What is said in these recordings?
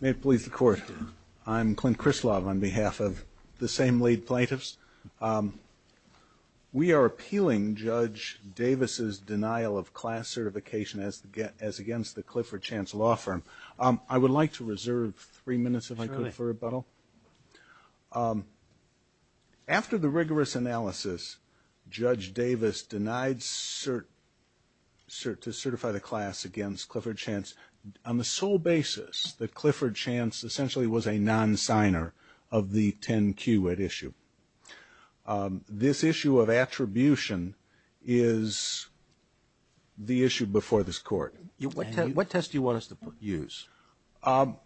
May it please the court. I'm Clint Krislav on behalf of the same lead plaintiffs. Um, we are appealing Judge Davis's denial of class certification as against the Clifford Chance Law Firm. Um, I would like to reserve three minutes if I could for rebuttal. Um, after the rigorous analysis, Judge Davis denied cert, cert, to certify the class against Clifford Chance on the sole basis that Clifford Chance essentially was a non-signer of the 10-Q at issue. Um, this issue of attribution is the issue before this court. What test do you want us to use? Um,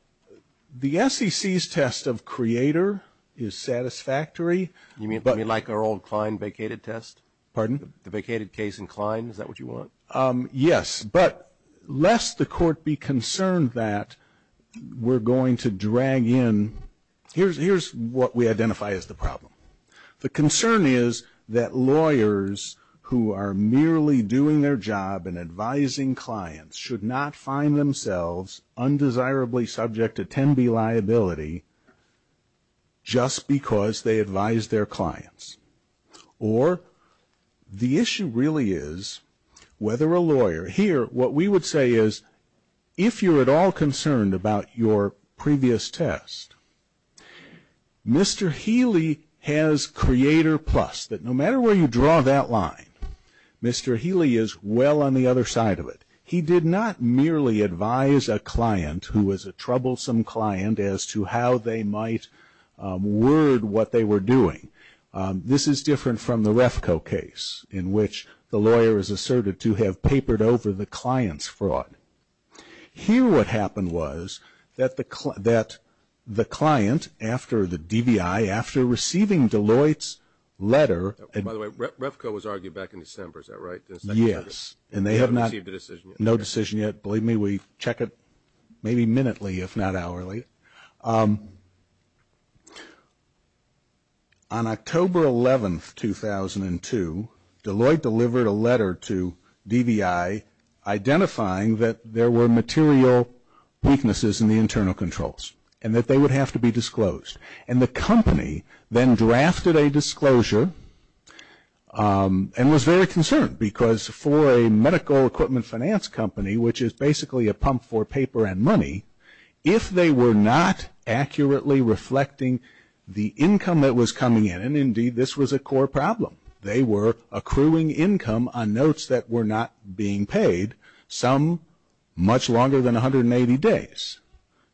the SEC's test of creator is satisfactory. You mean like our old Klein vacated test? Pardon? The vacated case in Klein, is that what you want? Um, yes, but lest the court be concerned that we're going to drag in, here's, here's what we identify as the problem. The concern is that lawyers who are merely doing their job in advising clients should not find themselves undesirably subject to 10-B liability just because they advise their clients. Or the issue really is whether a lawyer, here what we would say is if you're at all concerned about your previous test, Mr. Healy has creator plus, that no he did not merely advise a client who was a troublesome client as to how they might um, word what they were doing. Um, this is different from the Refco case in which the lawyer is asserted to have papered over the client's fraud. Here what happened was that the, that the client after the DVI, after receiving Deloitte's letter. By the way, Refco was argued back in December, is that right? Yes, and they have not, no decision yet. Believe me, we check it maybe minutely if not hourly. Um, on October 11th, 2002, Deloitte delivered a letter to DVI identifying that there were material weaknesses in the internal controls and that they would have to be disclosed. And the company then drafted a disclosure um, and was very concerned because for a medical equipment finance company, which is basically a pump for paper and money, if they were not accurately reflecting the income that was coming in, and indeed this was a core problem, they were accruing income on notes that were not being paid, some much longer than 180 days.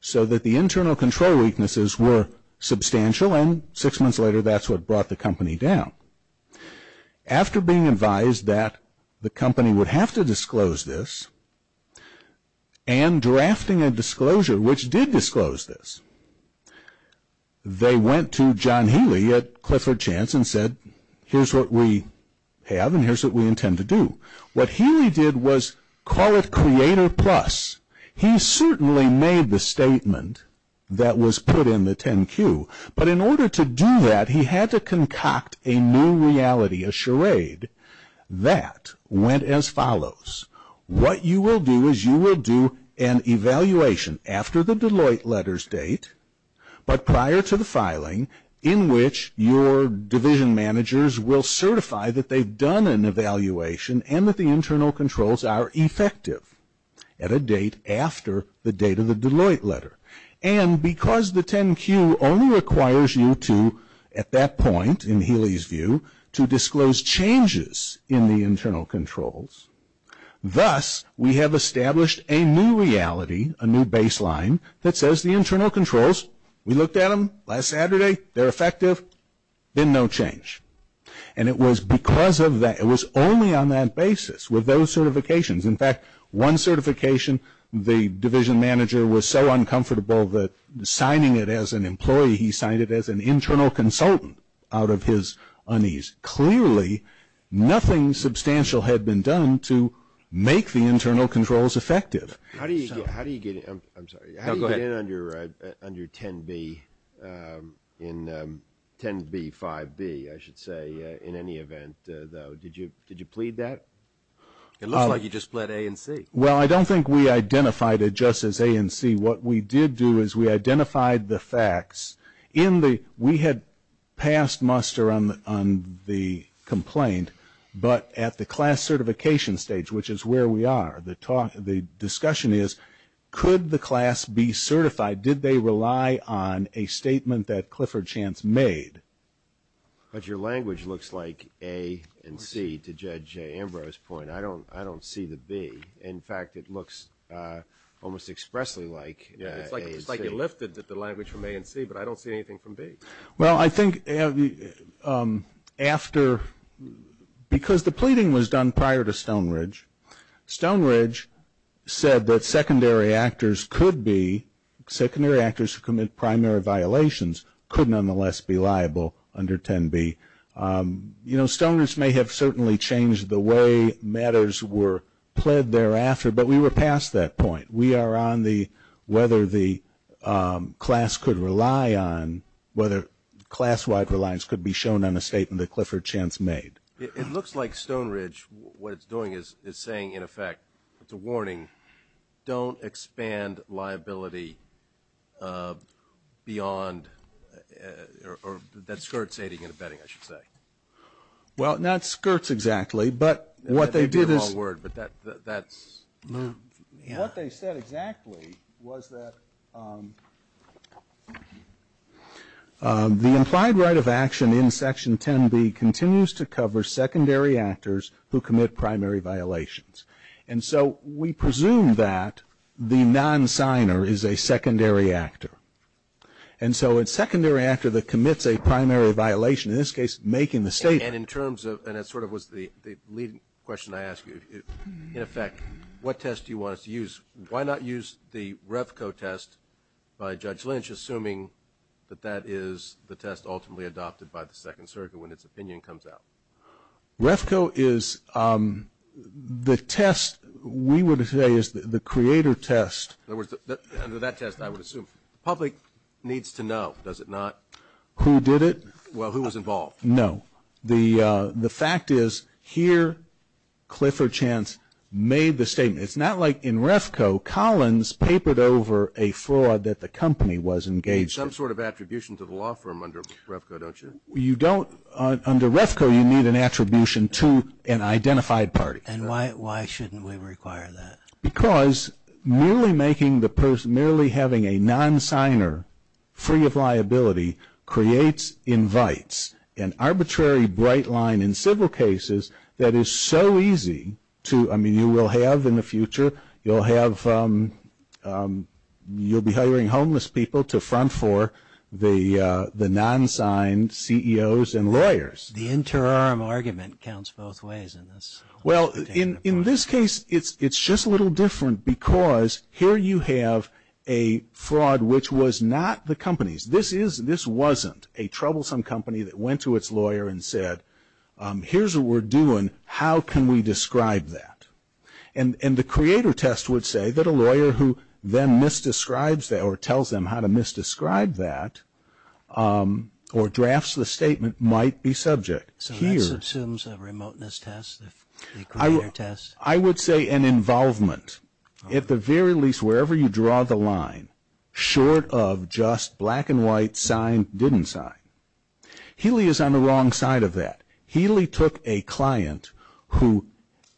So that the internal control weaknesses were substantial and six months later that's what brought the company down. After being advised that the company would have to disclose this, and drafting a disclosure which did disclose this, they went to John Healy at Clifford Chance and said, here's what we have and here's what we intend to do. What Healy did was call it Creator Plus. He certainly made the statement that was put in the 10-Q, but in order to do that he had to concoct a new reality, a charade, that went as follows. What you will do is you will do an evaluation after the Deloitte letters date, but prior to the filing, in which your division managers will certify that they've done an evaluation and that the internal controls are effective at a date after the date of the Deloitte letter. And because the 10-Q only requires you to, at that point in Healy's view, to disclose changes in the internal controls, thus we have established a new reality, a new baseline, that says the internal controls, we looked at them last Saturday, they're effective, been no change. And it was because of that, it was only on that basis with those certifications. In fact, one certification, the division manager was so uncomfortable that signing it as an employee, he signed it as an internal consultant out of his unease. Clearly, nothing substantial had been done to make the internal controls effective. How do you get in under 10-B, 10-B-5-B, I should say, in any event, though? Did you plead that? It looks like you just pled A and C. Well, I don't think we identified it just as A and C. What we did do is we identified the facts. We had passed muster on the complaint, but at the class certification stage, which is where we are, the discussion is, could the class be certified? Did they rely on a statement that Clifford Chance made? But your language looks like A and C, to Judge Ambrose's point. I don't see the B. In fact, it looks almost expressly like A and C. It's like you lifted the language from A and C, but I don't see anything from B. Well, I think after, because the pleading was done prior to Stonebridge, Stonebridge said that secondary actors could be, secondary actors who commit primary violations could nonetheless be liable under 10-B. You know, Stonebridge may have certainly changed the way matters were pled thereafter, but we were past that point. We are on the, whether the class-wide reliance could be shown on a statement that Clifford Chance made. It looks like Stonebridge, what it's doing is saying, in effect, it's a warning, don't expand liability beyond, or that skirts aiding and abetting, I should say. Well, not skirts exactly, but what they did is- The implied right of action in Section 10-B continues to cover secondary actors who commit primary violations. And so we presume that the non-signer is a secondary actor. And so a secondary actor that commits a primary violation, in this case, making the statement- And in terms of, and that sort of was the leading question I asked you, in effect, what test do you want us to use? Why not use the Revco test by Judge Lynch, assuming that that is the test ultimately adopted by the Second Circuit when its opinion comes out? Revco is, the test, we would say, is the creator test. In other words, under that test, I would assume, the public needs to know, does it not? Who did it? Well, who was involved? No. The fact is, here, Clifford Chance made the statement. It's not like in Revco, Collins papered over a fraud that the company was engaged in. There's some sort of attribution to the law firm under Revco, don't you? You don't, under Revco, you need an attribution to an identified party. And why shouldn't we require that? Because merely making the, merely having a non-signer free of liability creates invites, an arbitrary bright line in civil cases that is so easy to, I mean, you will have in the law, the non-signed CEOs and lawyers. The interim argument counts both ways in this. Well, in this case, it's just a little different because here you have a fraud which was not the company's. This is, this wasn't a troublesome company that went to its lawyer and said, here's what we're doing, how can we describe that? And the creator test would say that a lawyer who then misdescribes or tells them how to misdescribe that, or drafts the statement, might be subject. So that assumes a remoteness test, the creator test? I would say an involvement, at the very least, wherever you draw the line, short of just black and white, signed, didn't sign. Healy is on the wrong side of that. Healy took a client who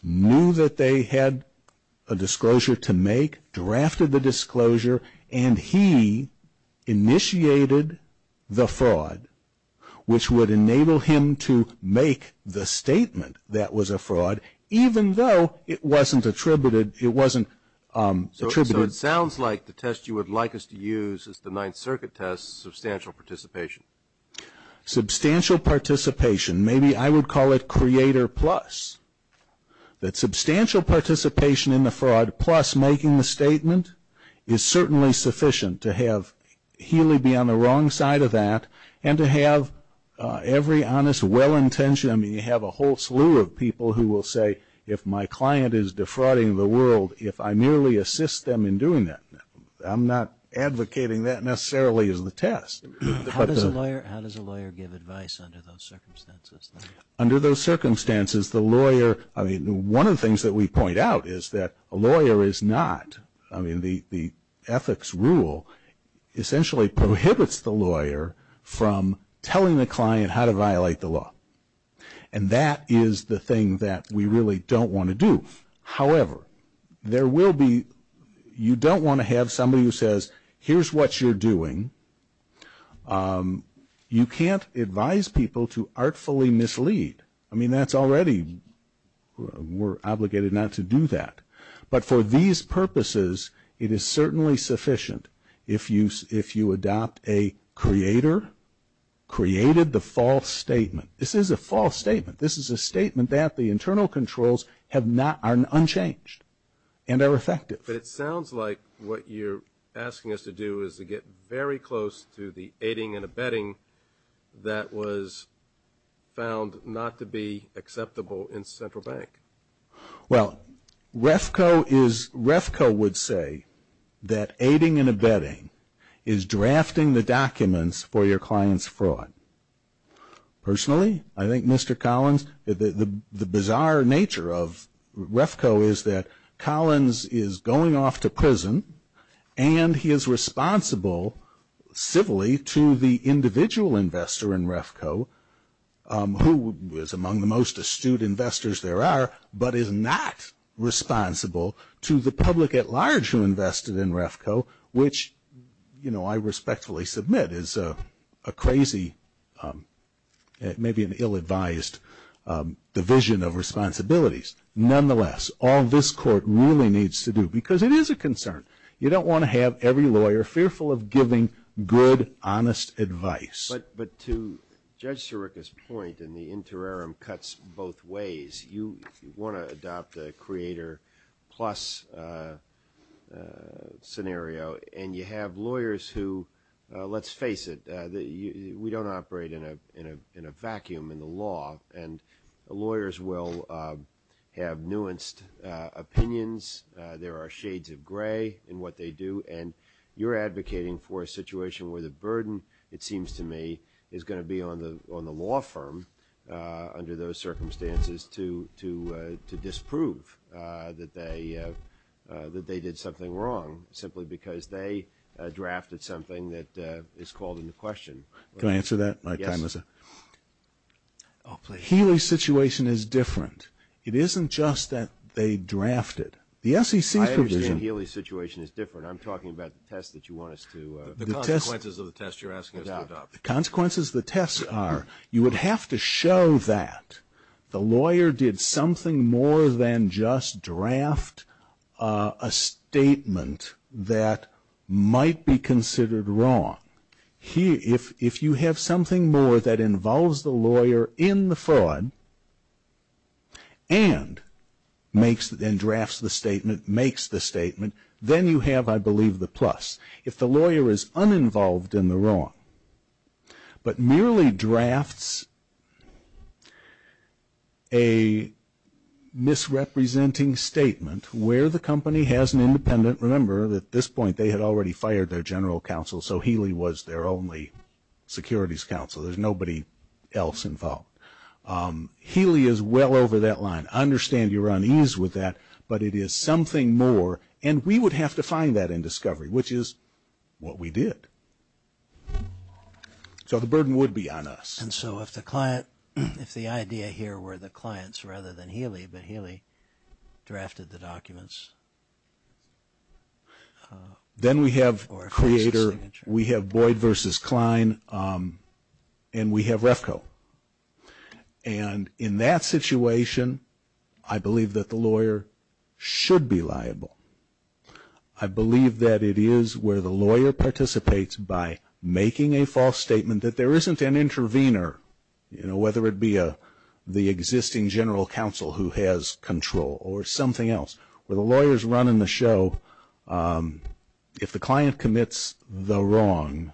knew that they had a disclosure to make, drafted the disclosure, and he initiated the fraud, which would enable him to make the statement that was a fraud, even though it wasn't attributed, it wasn't attributed. So it sounds like the test you would like us to use is the Ninth Circuit test, substantial participation. Substantial participation, maybe I would call it creator plus. That substantial participation in the fraud plus making the statement is certainly sufficient to have Healy be on the wrong side of that, and to have every honest, well-intentioned, I mean, you have a whole slew of people who will say, if my client is defrauding the world, if I merely assist them in doing that, I'm not advocating that necessarily as the test. How does a lawyer give advice under those circumstances? Under those circumstances, the lawyer, I mean, one of the things that we point out is that a lawyer is not, I mean, the ethics rule essentially prohibits the lawyer from telling the client how to violate the law. And that is the thing that we really don't want to do. However, there will be, you don't want to have somebody who says, here's what you're doing. You can't advise people to artfully mislead. I mean, that's already, we're obligated not to do that. But for these purposes, it is certainly sufficient if you adopt a creator created the false statement. This is a false statement. This is a statement that the internal controls have not, are unchanged and are effective. It sounds like what you're asking us to do is to get very close to the aiding and abetting that was found not to be acceptable in Central Bank. Well, REFCO is, REFCO would say that aiding and abetting is drafting the documents for your client's fraud. Personally, I think Mr. Collins, the bizarre nature of REFCO is that Collins is going off to prison and he is responsible civilly to the individual investor in REFCO who is among the most astute investors there are, but is not responsible to the public at large who have maybe an ill-advised division of responsibilities. Nonetheless, all this court really needs to do, because it is a concern, you don't want to have every lawyer fearful of giving good, honest advice. But to Judge Sirica's point, and the interim cuts both ways, you want to adopt a creator plus scenario, and you have lawyers who, let's face it, we don't operate in a vacuum in the law, and lawyers will have nuanced opinions, there are shades of gray in what they do, and you're advocating for a situation where the burden, it seems to me, is going to be on the law firm under those circumstances to disprove that they did something wrong simply because they drafted something that is called into question. Can I answer that? Yes. Healy's situation is different. It isn't just that they drafted. The SEC's provision... I understand Healy's situation is different. I'm talking about the test that you want us to... The consequences of the test you're asking us to adopt. The consequences of the test are, you would have to show that the lawyer did something more than just draft a statement that might be considered wrong. If you have something more that involves the lawyer in the fraud and drafts the statement, makes the statement, then you have, I believe, the plus. If the lawyer is uninvolved in the wrong, but merely drafts a misrepresenting statement where the company has an independent... Remember, at this point, they had already fired their general counsel, so Healy was their only securities counsel. There's nobody else involved. Healy is well over that line. I understand you're unease with that, but it is something more, and we would have to find that in discovery, which is what we did. So the burden would be on us. And so if the idea here were the clients rather than Healy, but Healy drafted the documents... Then we have Boyd versus Kline, and we have REFCO. And in that situation, I believe that the lawyer should be liable. I believe that it is where the lawyer participates by making a false statement that there isn't an intervener, whether it be the existing general counsel who has control or something else. Where the lawyers run in the show, if the client commits the wrong,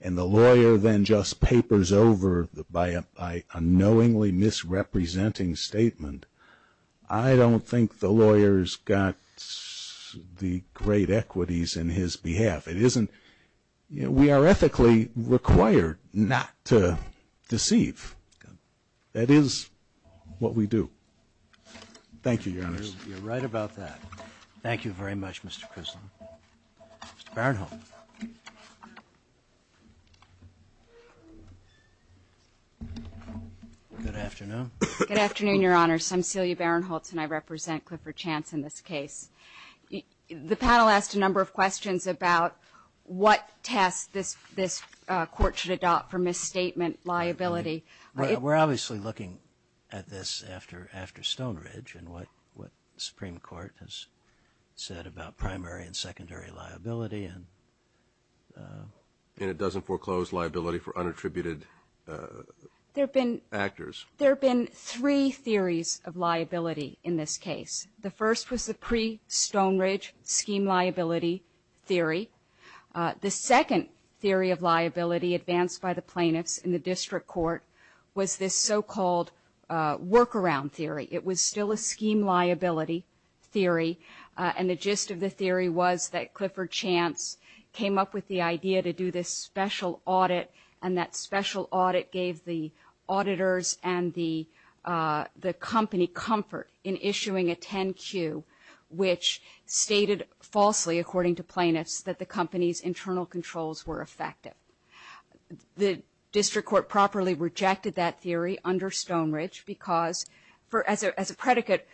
and the lawyer then just papers over by a knowingly misrepresenting statement, I don't think the lawyer's got the great equities in his behalf. It isn't... We are ethically required not to deceive. That is what we do. Thank you, Your Honor. You're right about that. Thank you very much, Mr. Crislin. Mr. Barinholtz. Good afternoon. Good afternoon, Your Honor. I'm Celia Barinholtz, and I represent Clifford Chance in this case. The panel asked a number of questions about what test this court should adopt for misstatement liability. We're obviously looking at this after Stonebridge and what the Supreme Court has said about primary and secondary liability and... And it doesn't foreclose liability for unattributed actors. There have been three theories of liability in this case. The first was the pre-Stonebridge scheme liability theory. The second theory of liability advanced by the plaintiffs in the district court was this so-called workaround theory. It was still a scheme liability theory, and the gist of the theory was that Clifford Chance came up with the idea to do this special audit, and that special audit gave the auditors and the company comfort in issuing a 10-Q, which stated falsely, according to plaintiffs, that the company's internal controls were effective. The district court properly rejected that theory under Stonebridge because, as a predicate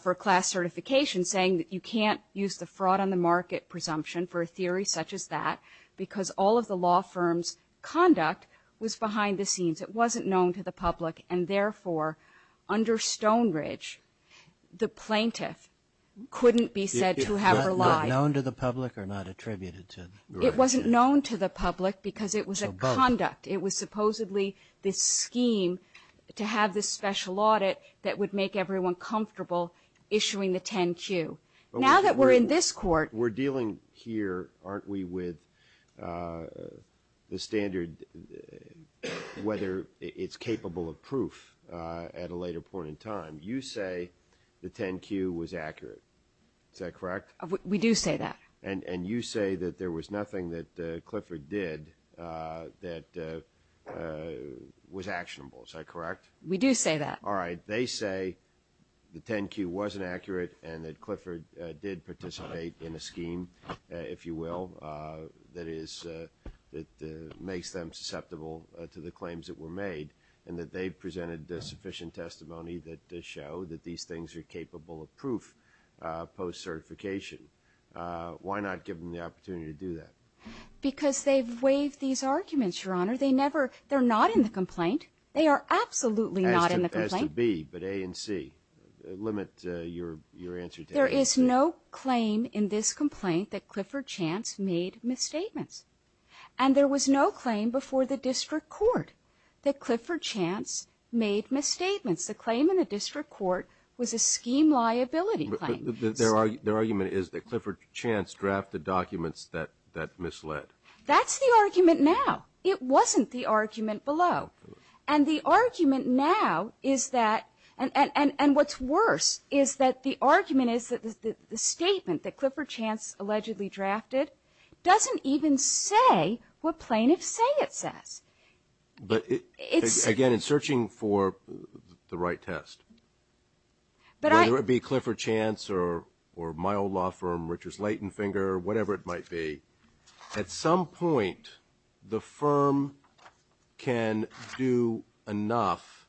for class certification, saying that you can't use the fraud on the market presumption for a theory such as that because all of the law firm's conduct was behind the scenes. It wasn't known to the public, and therefore, under Stonebridge, the plaintiff couldn't be said to have relied... Not known to the public or not attributed to... It wasn't known to the public because it was a conduct. It was supposedly this scheme to have this special audit that would make everyone comfortable issuing the 10-Q. Now that we're in this court... We're dealing here, aren't we, with the standard whether it's capable of proof at a later point in time. You say the 10-Q was accurate. Is that correct? We do say that. And you say that there was nothing that Clifford did that was actionable. Is that correct? We do say that. All right. They say the 10-Q wasn't accurate and that Clifford did participate in a scheme, if you will, that makes them susceptible to the claims that were made and that they presented sufficient testimony that does show that these things are capable of proof post-certification. Why not give them the opportunity to do that? Because they've waived these arguments, Your Honor. They never... They're not in the complaint. They are absolutely not in the complaint. But A and C, limit your answer to A and C. There is no claim in this complaint that Clifford Chance made misstatements. And there was no claim before the district court that Clifford Chance made misstatements. The claim in the district court was a scheme liability claim. Their argument is that Clifford Chance drafted documents that misled. That's the argument now. It wasn't the argument below. And the argument now is that... And what's worse is that the argument is that the statement that Clifford Chance allegedly drafted doesn't even say what plaintiffs say it says. But again, in searching for the right test, whether it be Clifford Chance or my old law firm, Richard's Leighton Finger, whatever it might be, at some point, the firm can do enough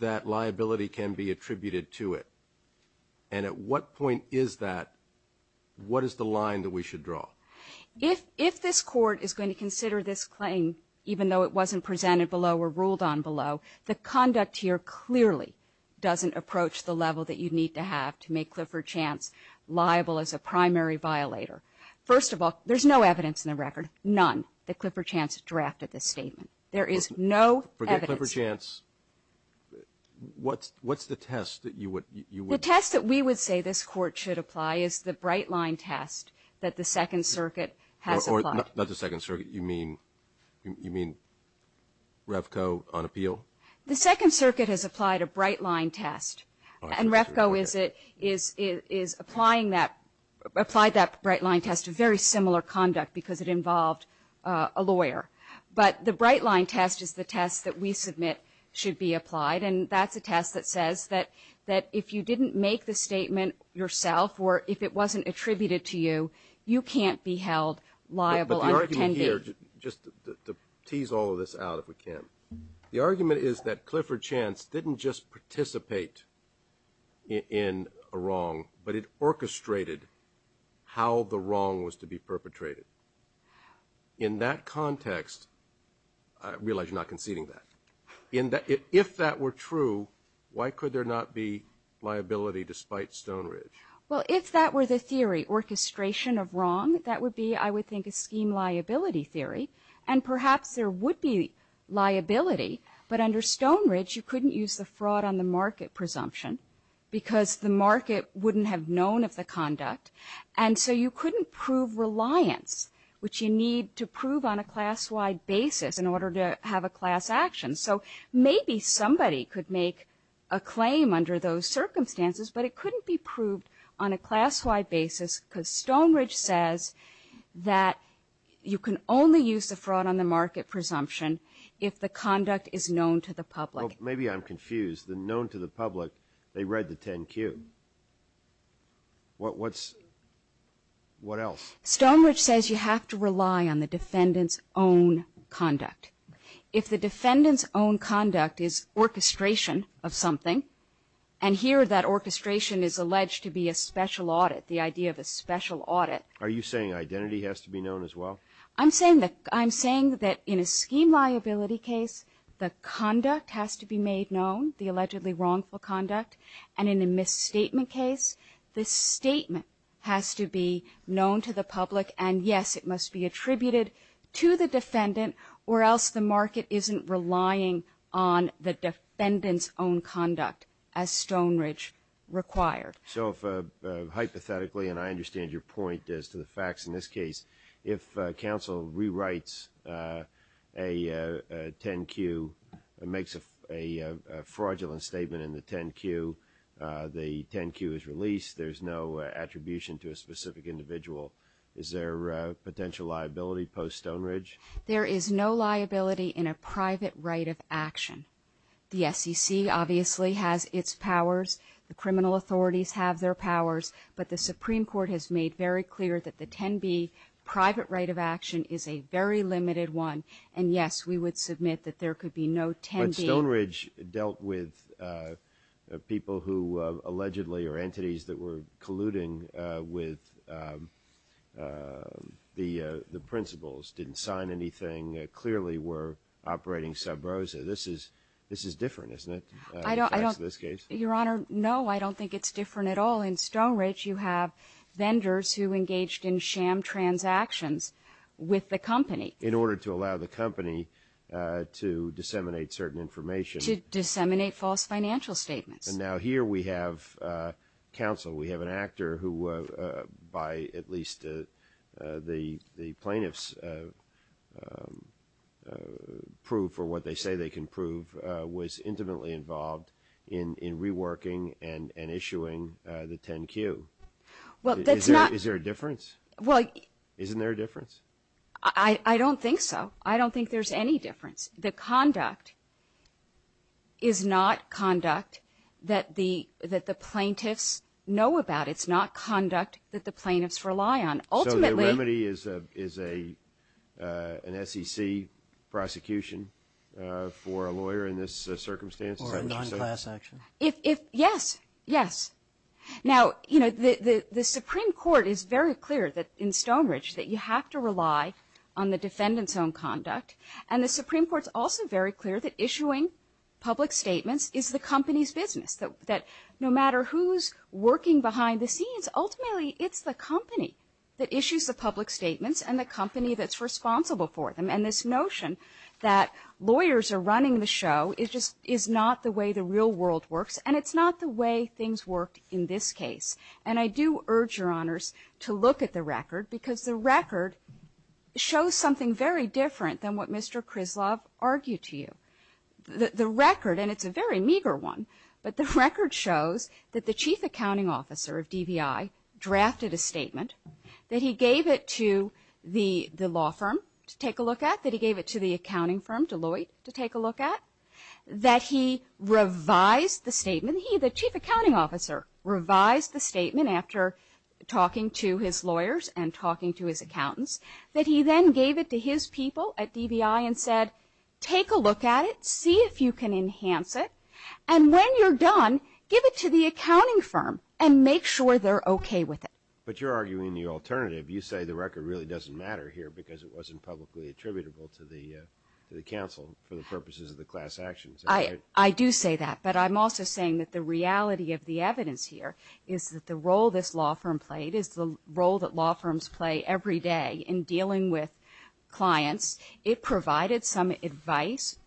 that liability can be attributed to it. And at what point is that? What is the line that we should draw? If this court is going to consider this claim, even though it wasn't presented below or ruled on below, the conduct here clearly doesn't approach the level that you need to have to make Clifford Chance liable as a primary violator. First of all, there's no evidence in the record. None that Clifford Chance drafted this statement. There is no evidence. Forget Clifford Chance. What's the test that you would... The test that we would say this court should apply is the bright line test that the Second Circuit has applied. Not the Second Circuit. You mean REFCO on appeal? The Second Circuit has applied a bright line test. And REFCO is applying that, applied that bright line test to very similar conduct because it involved a lawyer. But the bright line test is the test that we submit should be applied. And that's a test that says that if you didn't make the statement yourself or if it wasn't attributed to you, you can't be held liable. But the argument here, just to tease all of this out if we can, the argument is that Clifford Chance didn't just participate in a wrong, but it orchestrated how the wrong was to be perpetrated. In that context, I realize you're not conceding that, if that were true, why could there not be liability despite Stone Ridge? Well, if that were the theory, orchestration of wrong, that would be, I would think, a scheme liability theory. And perhaps there would be liability. But under Stone Ridge, you couldn't use the fraud on the market presumption because the market wouldn't have known of the conduct. And so you couldn't prove reliance, which you need to prove on a class-wide basis in order to have a class action. So maybe somebody could make a claim under those circumstances, but it couldn't be proved on a class-wide basis because Stone Ridge says that you can only use the fraud on the market presumption if the conduct is known to the public. Well, maybe I'm confused. The known to the public, they read the 10Q. What's, what else? Stone Ridge says you have to rely on the defendant's own conduct. If the defendant's own conduct is orchestration of something, and here that orchestration is alleged to be a special audit, the idea of a special audit. Are you saying identity has to be known as well? I'm saying that, I'm saying that in a scheme liability case, the conduct has to be made known, the allegedly wrongful conduct. And in a misstatement case, the statement has to be known to the public, and yes, it must be attributed to the defendant or else the market isn't relying on the defendant's own conduct as Stone Ridge required. So if, hypothetically, and I understand your point as to the facts in this case, if counsel rewrites a 10Q, makes a fraudulent statement in the 10Q, the 10Q is released, there's no attribution to a specific individual, is there potential liability post-Stone Ridge? There is no liability in a private right of action. The SEC obviously has its powers, the criminal authorities have their powers, but the Supreme Court has made very clear that the 10B private right of action is a very limited one, and yes, we would submit that there could be no 10B. But Stone Ridge dealt with people who allegedly, or entities that were colluding with the principles, didn't sign anything, clearly were operating sub rosa. This is different, isn't it, in the case of this case? Your Honor, no, I don't think it's different at all. In Stone Ridge, you have vendors who engaged in sham transactions with the company. In order to allow the company to disseminate certain information. To disseminate false financial statements. And now here we have counsel, we have an actor who, by at least the plaintiffs, prove for what they say they can prove, was intimately involved in reworking and issuing the 10Q. Well, that's not... Is there a difference? Well... Isn't there a difference? I don't think so. I don't think there's any difference. The conduct is not conduct that the plaintiffs know about. It's not conduct that the plaintiffs rely on. Ultimately... Is an SEC prosecution for a lawyer in this circumstance? Or a non-class action? If... Yes, yes. Now, you know, the Supreme Court is very clear that in Stone Ridge that you have to rely on the defendant's own conduct. And the Supreme Court's also very clear that issuing public statements is the company's business. That no matter who's working behind the scenes, ultimately it's the company that issues the statements and the company that's responsible for them. And this notion that lawyers are running the show is just... Is not the way the real world works. And it's not the way things worked in this case. And I do urge Your Honors to look at the record, because the record shows something very different than what Mr. Krizlov argued to you. The record, and it's a very meager one, but the record shows that the chief accounting officer of DVI drafted a statement. That he gave it to the law firm to take a look at. That he gave it to the accounting firm, Deloitte, to take a look at. That he revised the statement. He, the chief accounting officer, revised the statement after talking to his lawyers and talking to his accountants. That he then gave it to his people at DVI and said, take a look at it, see if you can enhance it. And when you're done, give it to the accounting firm and make sure they're okay with it. But you're arguing the alternative. You say the record really doesn't matter here because it wasn't publicly attributable to the counsel for the purposes of the class actions. I do say that. But I'm also saying that the reality of the evidence here is that the role this law firm played is the role that law firms play every day in dealing with clients. It provided some advice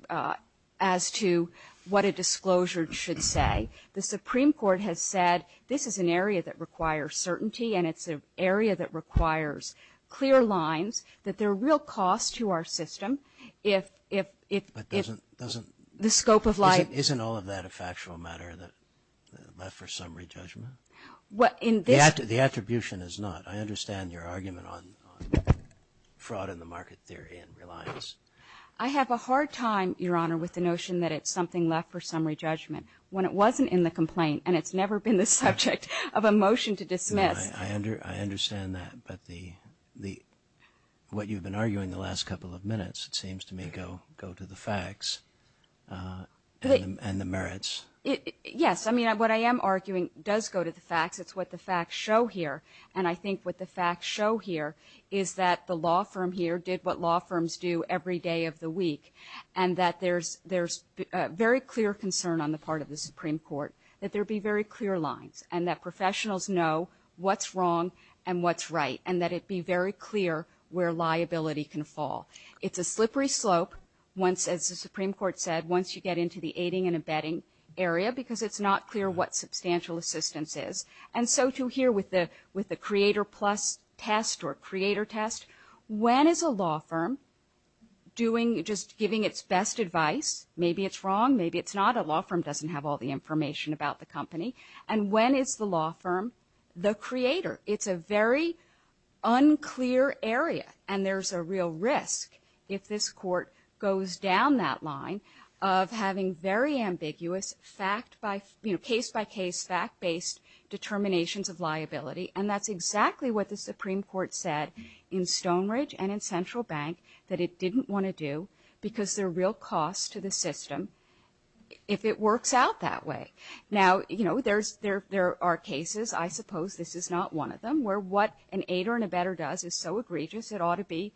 as to what a disclosure should say. The Supreme Court has said this is an area that requires certainty and it's an area that requires clear lines. That there are real costs to our system if, if, if. But doesn't, doesn't. The scope of life. Isn't all of that a factual matter that left for summary judgment? What in this. The attribution is not. I understand your argument on fraud in the market theory and reliance. I have a hard time, Your Honor, with the notion that it's something left for summary judgment. When it wasn't in the complaint and it's never been the subject of a motion to dismiss. I understand that. But the, the, what you've been arguing the last couple of minutes, it seems to me, go, go to the facts. And the merits. Yes. I mean, what I am arguing does go to the facts. It's what the facts show here. And I think what the facts show here is that the law firm here did what law firms do every day of the week. And that there's, there's a very clear concern on the part of the Supreme Court that there be very clear lines and that professionals know what's wrong and what's right. And that it be very clear where liability can fall. It's a slippery slope. Once, as the Supreme Court said, once you get into the aiding and abetting area, because it's not clear what substantial assistance is. And so too here with the, with the creator plus test or creator test. When is a law firm doing, just giving its best advice? Maybe it's wrong. Maybe it's not. A law firm doesn't have all the information about the company. And when is the law firm the creator? It's a very unclear area. And there's a real risk if this court goes down that line of having very ambiguous fact by, you know, case-by-case, fact-based determinations of liability. And that's exactly what the Supreme Court said in Stonebridge and in Central Bank that it didn't want to do because there are real costs to the system if it works out that way. Now, you know, there's, there, there are cases, I suppose this is not one of them, where what an aider and abetter does is so egregious it ought to be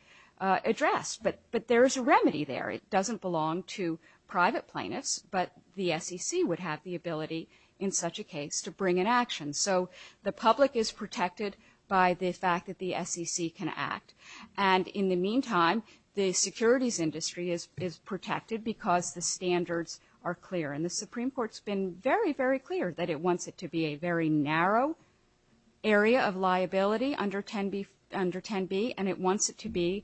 addressed. But, but there is a remedy there. It doesn't belong to private plaintiffs, but the SEC would have the ability in such a case to bring an action. So the public is protected by the fact that the SEC can act. And in the meantime, the securities industry is, is protected because the standards are clear. And the Supreme Court's been very, very clear that it wants it to be a very narrow area of liability under 10b, under 10b. And it wants it to be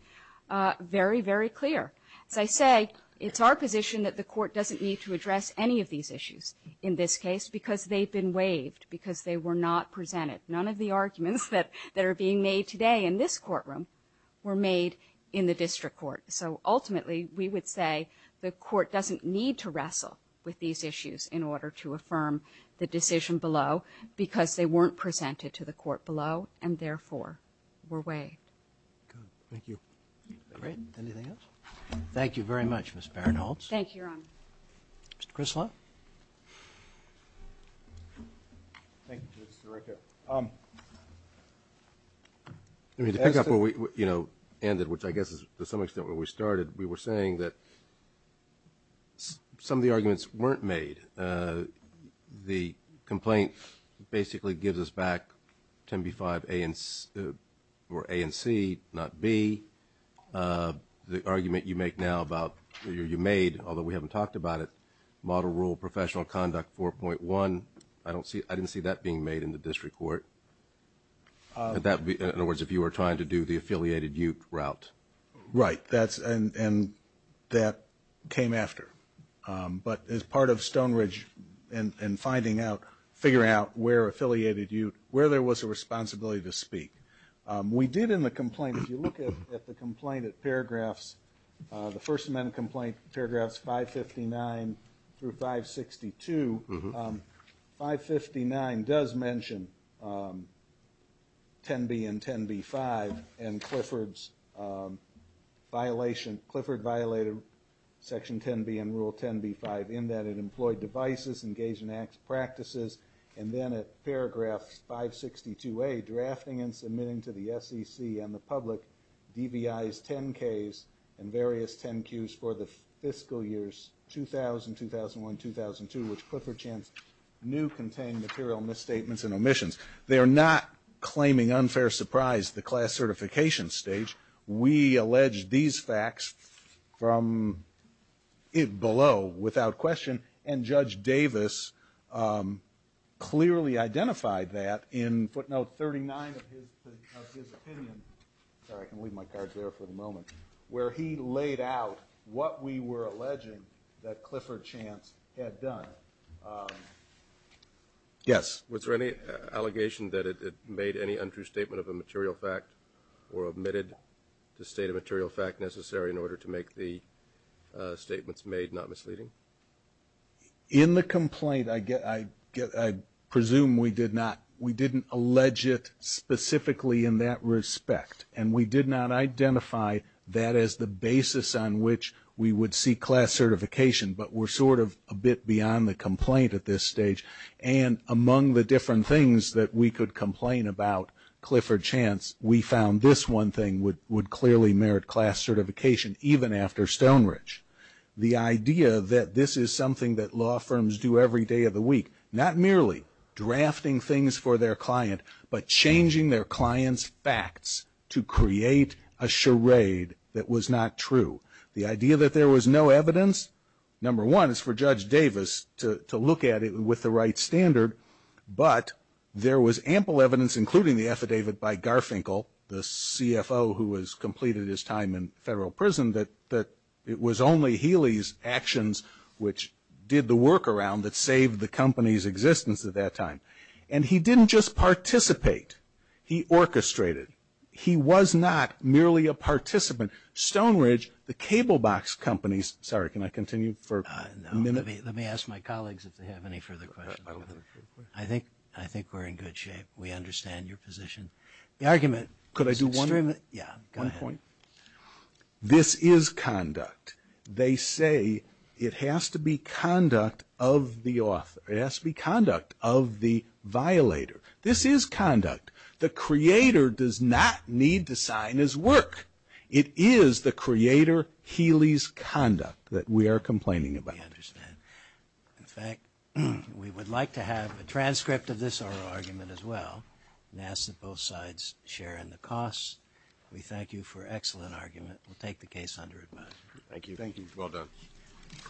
very, very clear. As I say, it's our position that the court doesn't need to address any of these issues in this case because they've been waived, because they were not presented. None of the arguments that, that are being made today in this courtroom were made in the district court. So ultimately, we would say the court doesn't need to wrestle with these issues in order to affirm the decision below because they weren't presented to the court below and therefore were waived. Good. Thank you. Great. Anything else? Thank you very much, Ms. Barinholtz. Thank you, Your Honor. Mr. Crislow? Thank you, Mr. Director. I mean, to pick up where we, you know, ended, which I guess is to some extent where we started, we were saying that some of the arguments weren't made. The complaint basically gives us back 10B5 A and C, or A and C, not B. The argument you make now about, you made, although we haven't talked about it, Model Rule Professional Conduct 4.1. I don't see, I didn't see that being made in the district court. That would be, in other words, if you were trying to do the affiliated UTE route. Right. That's, and that came after. But as part of Stone Ridge and finding out, figuring out where affiliated UTE, where there was a responsibility to speak. We did in the complaint, if you look at the complaint at paragraphs, the First Amendment complaint, paragraphs 559 through 562, 559 does mention 10B and 10B5 and Clifford's violation, Clifford violated Section 10B and Rule 10B5 in that it employed devices, engaged in acts, practices, and then at paragraph 562A, drafting and submitting to the SEC and the public, DVIs, 10Ks, and various 10Qs for the fiscal years 2000, 2001, 2002, which Clifford Chan's new contained material misstatements and omissions. They are not claiming unfair surprise the class certification stage. We allege these facts from it below without question. And Judge Davis clearly identified that in footnote 39 of his opinion. Sorry, I can leave my cards there for the moment, where he laid out what we were alleging that Clifford Chance had done. Yes. Was there any allegation that it made any untrue statement of a material fact or omitted the state of material fact necessary in order to make the statements made not misleading? In the complaint, I presume we did not. We didn't allege it specifically in that respect. And we did not identify that as the basis on which we would see class certification, but we're sort of a bit beyond the complaint at this stage. And among the different things that we could complain about Clifford Chance, we found this one thing would clearly merit class certification, even after Stonebridge. The idea that this is something that law firms do every day of the week, not merely drafting things for their client, but changing their client's facts to create a charade that was not true. The idea that there was no evidence, number one, is for Judge Davis to look at it with the right standard. But there was ample evidence, including the affidavit by Garfinkel, the CFO who has completed his time in federal prison, that it was only Healy's actions which did the work around that saved the company's existence at that time. And he didn't just participate. He orchestrated. He was not merely a participant. Stonebridge, the cable box companies. Sorry, can I continue for a minute? Let me ask my colleagues if they have any further questions. I think I think we're in good shape. We understand your position. The argument could I do one? Yeah, one point. This is conduct. They say it has to be conduct of the author. It has to be conduct of the violator. This is conduct. The creator does not need to sign his work. It is the creator Healy's conduct that we are complaining about. Understand. In fact, we would like to have a transcript of this argument as well. NASA both sides share in the costs. We thank you for excellent argument. We'll take the case under advice. Thank you. Thank you. Well done.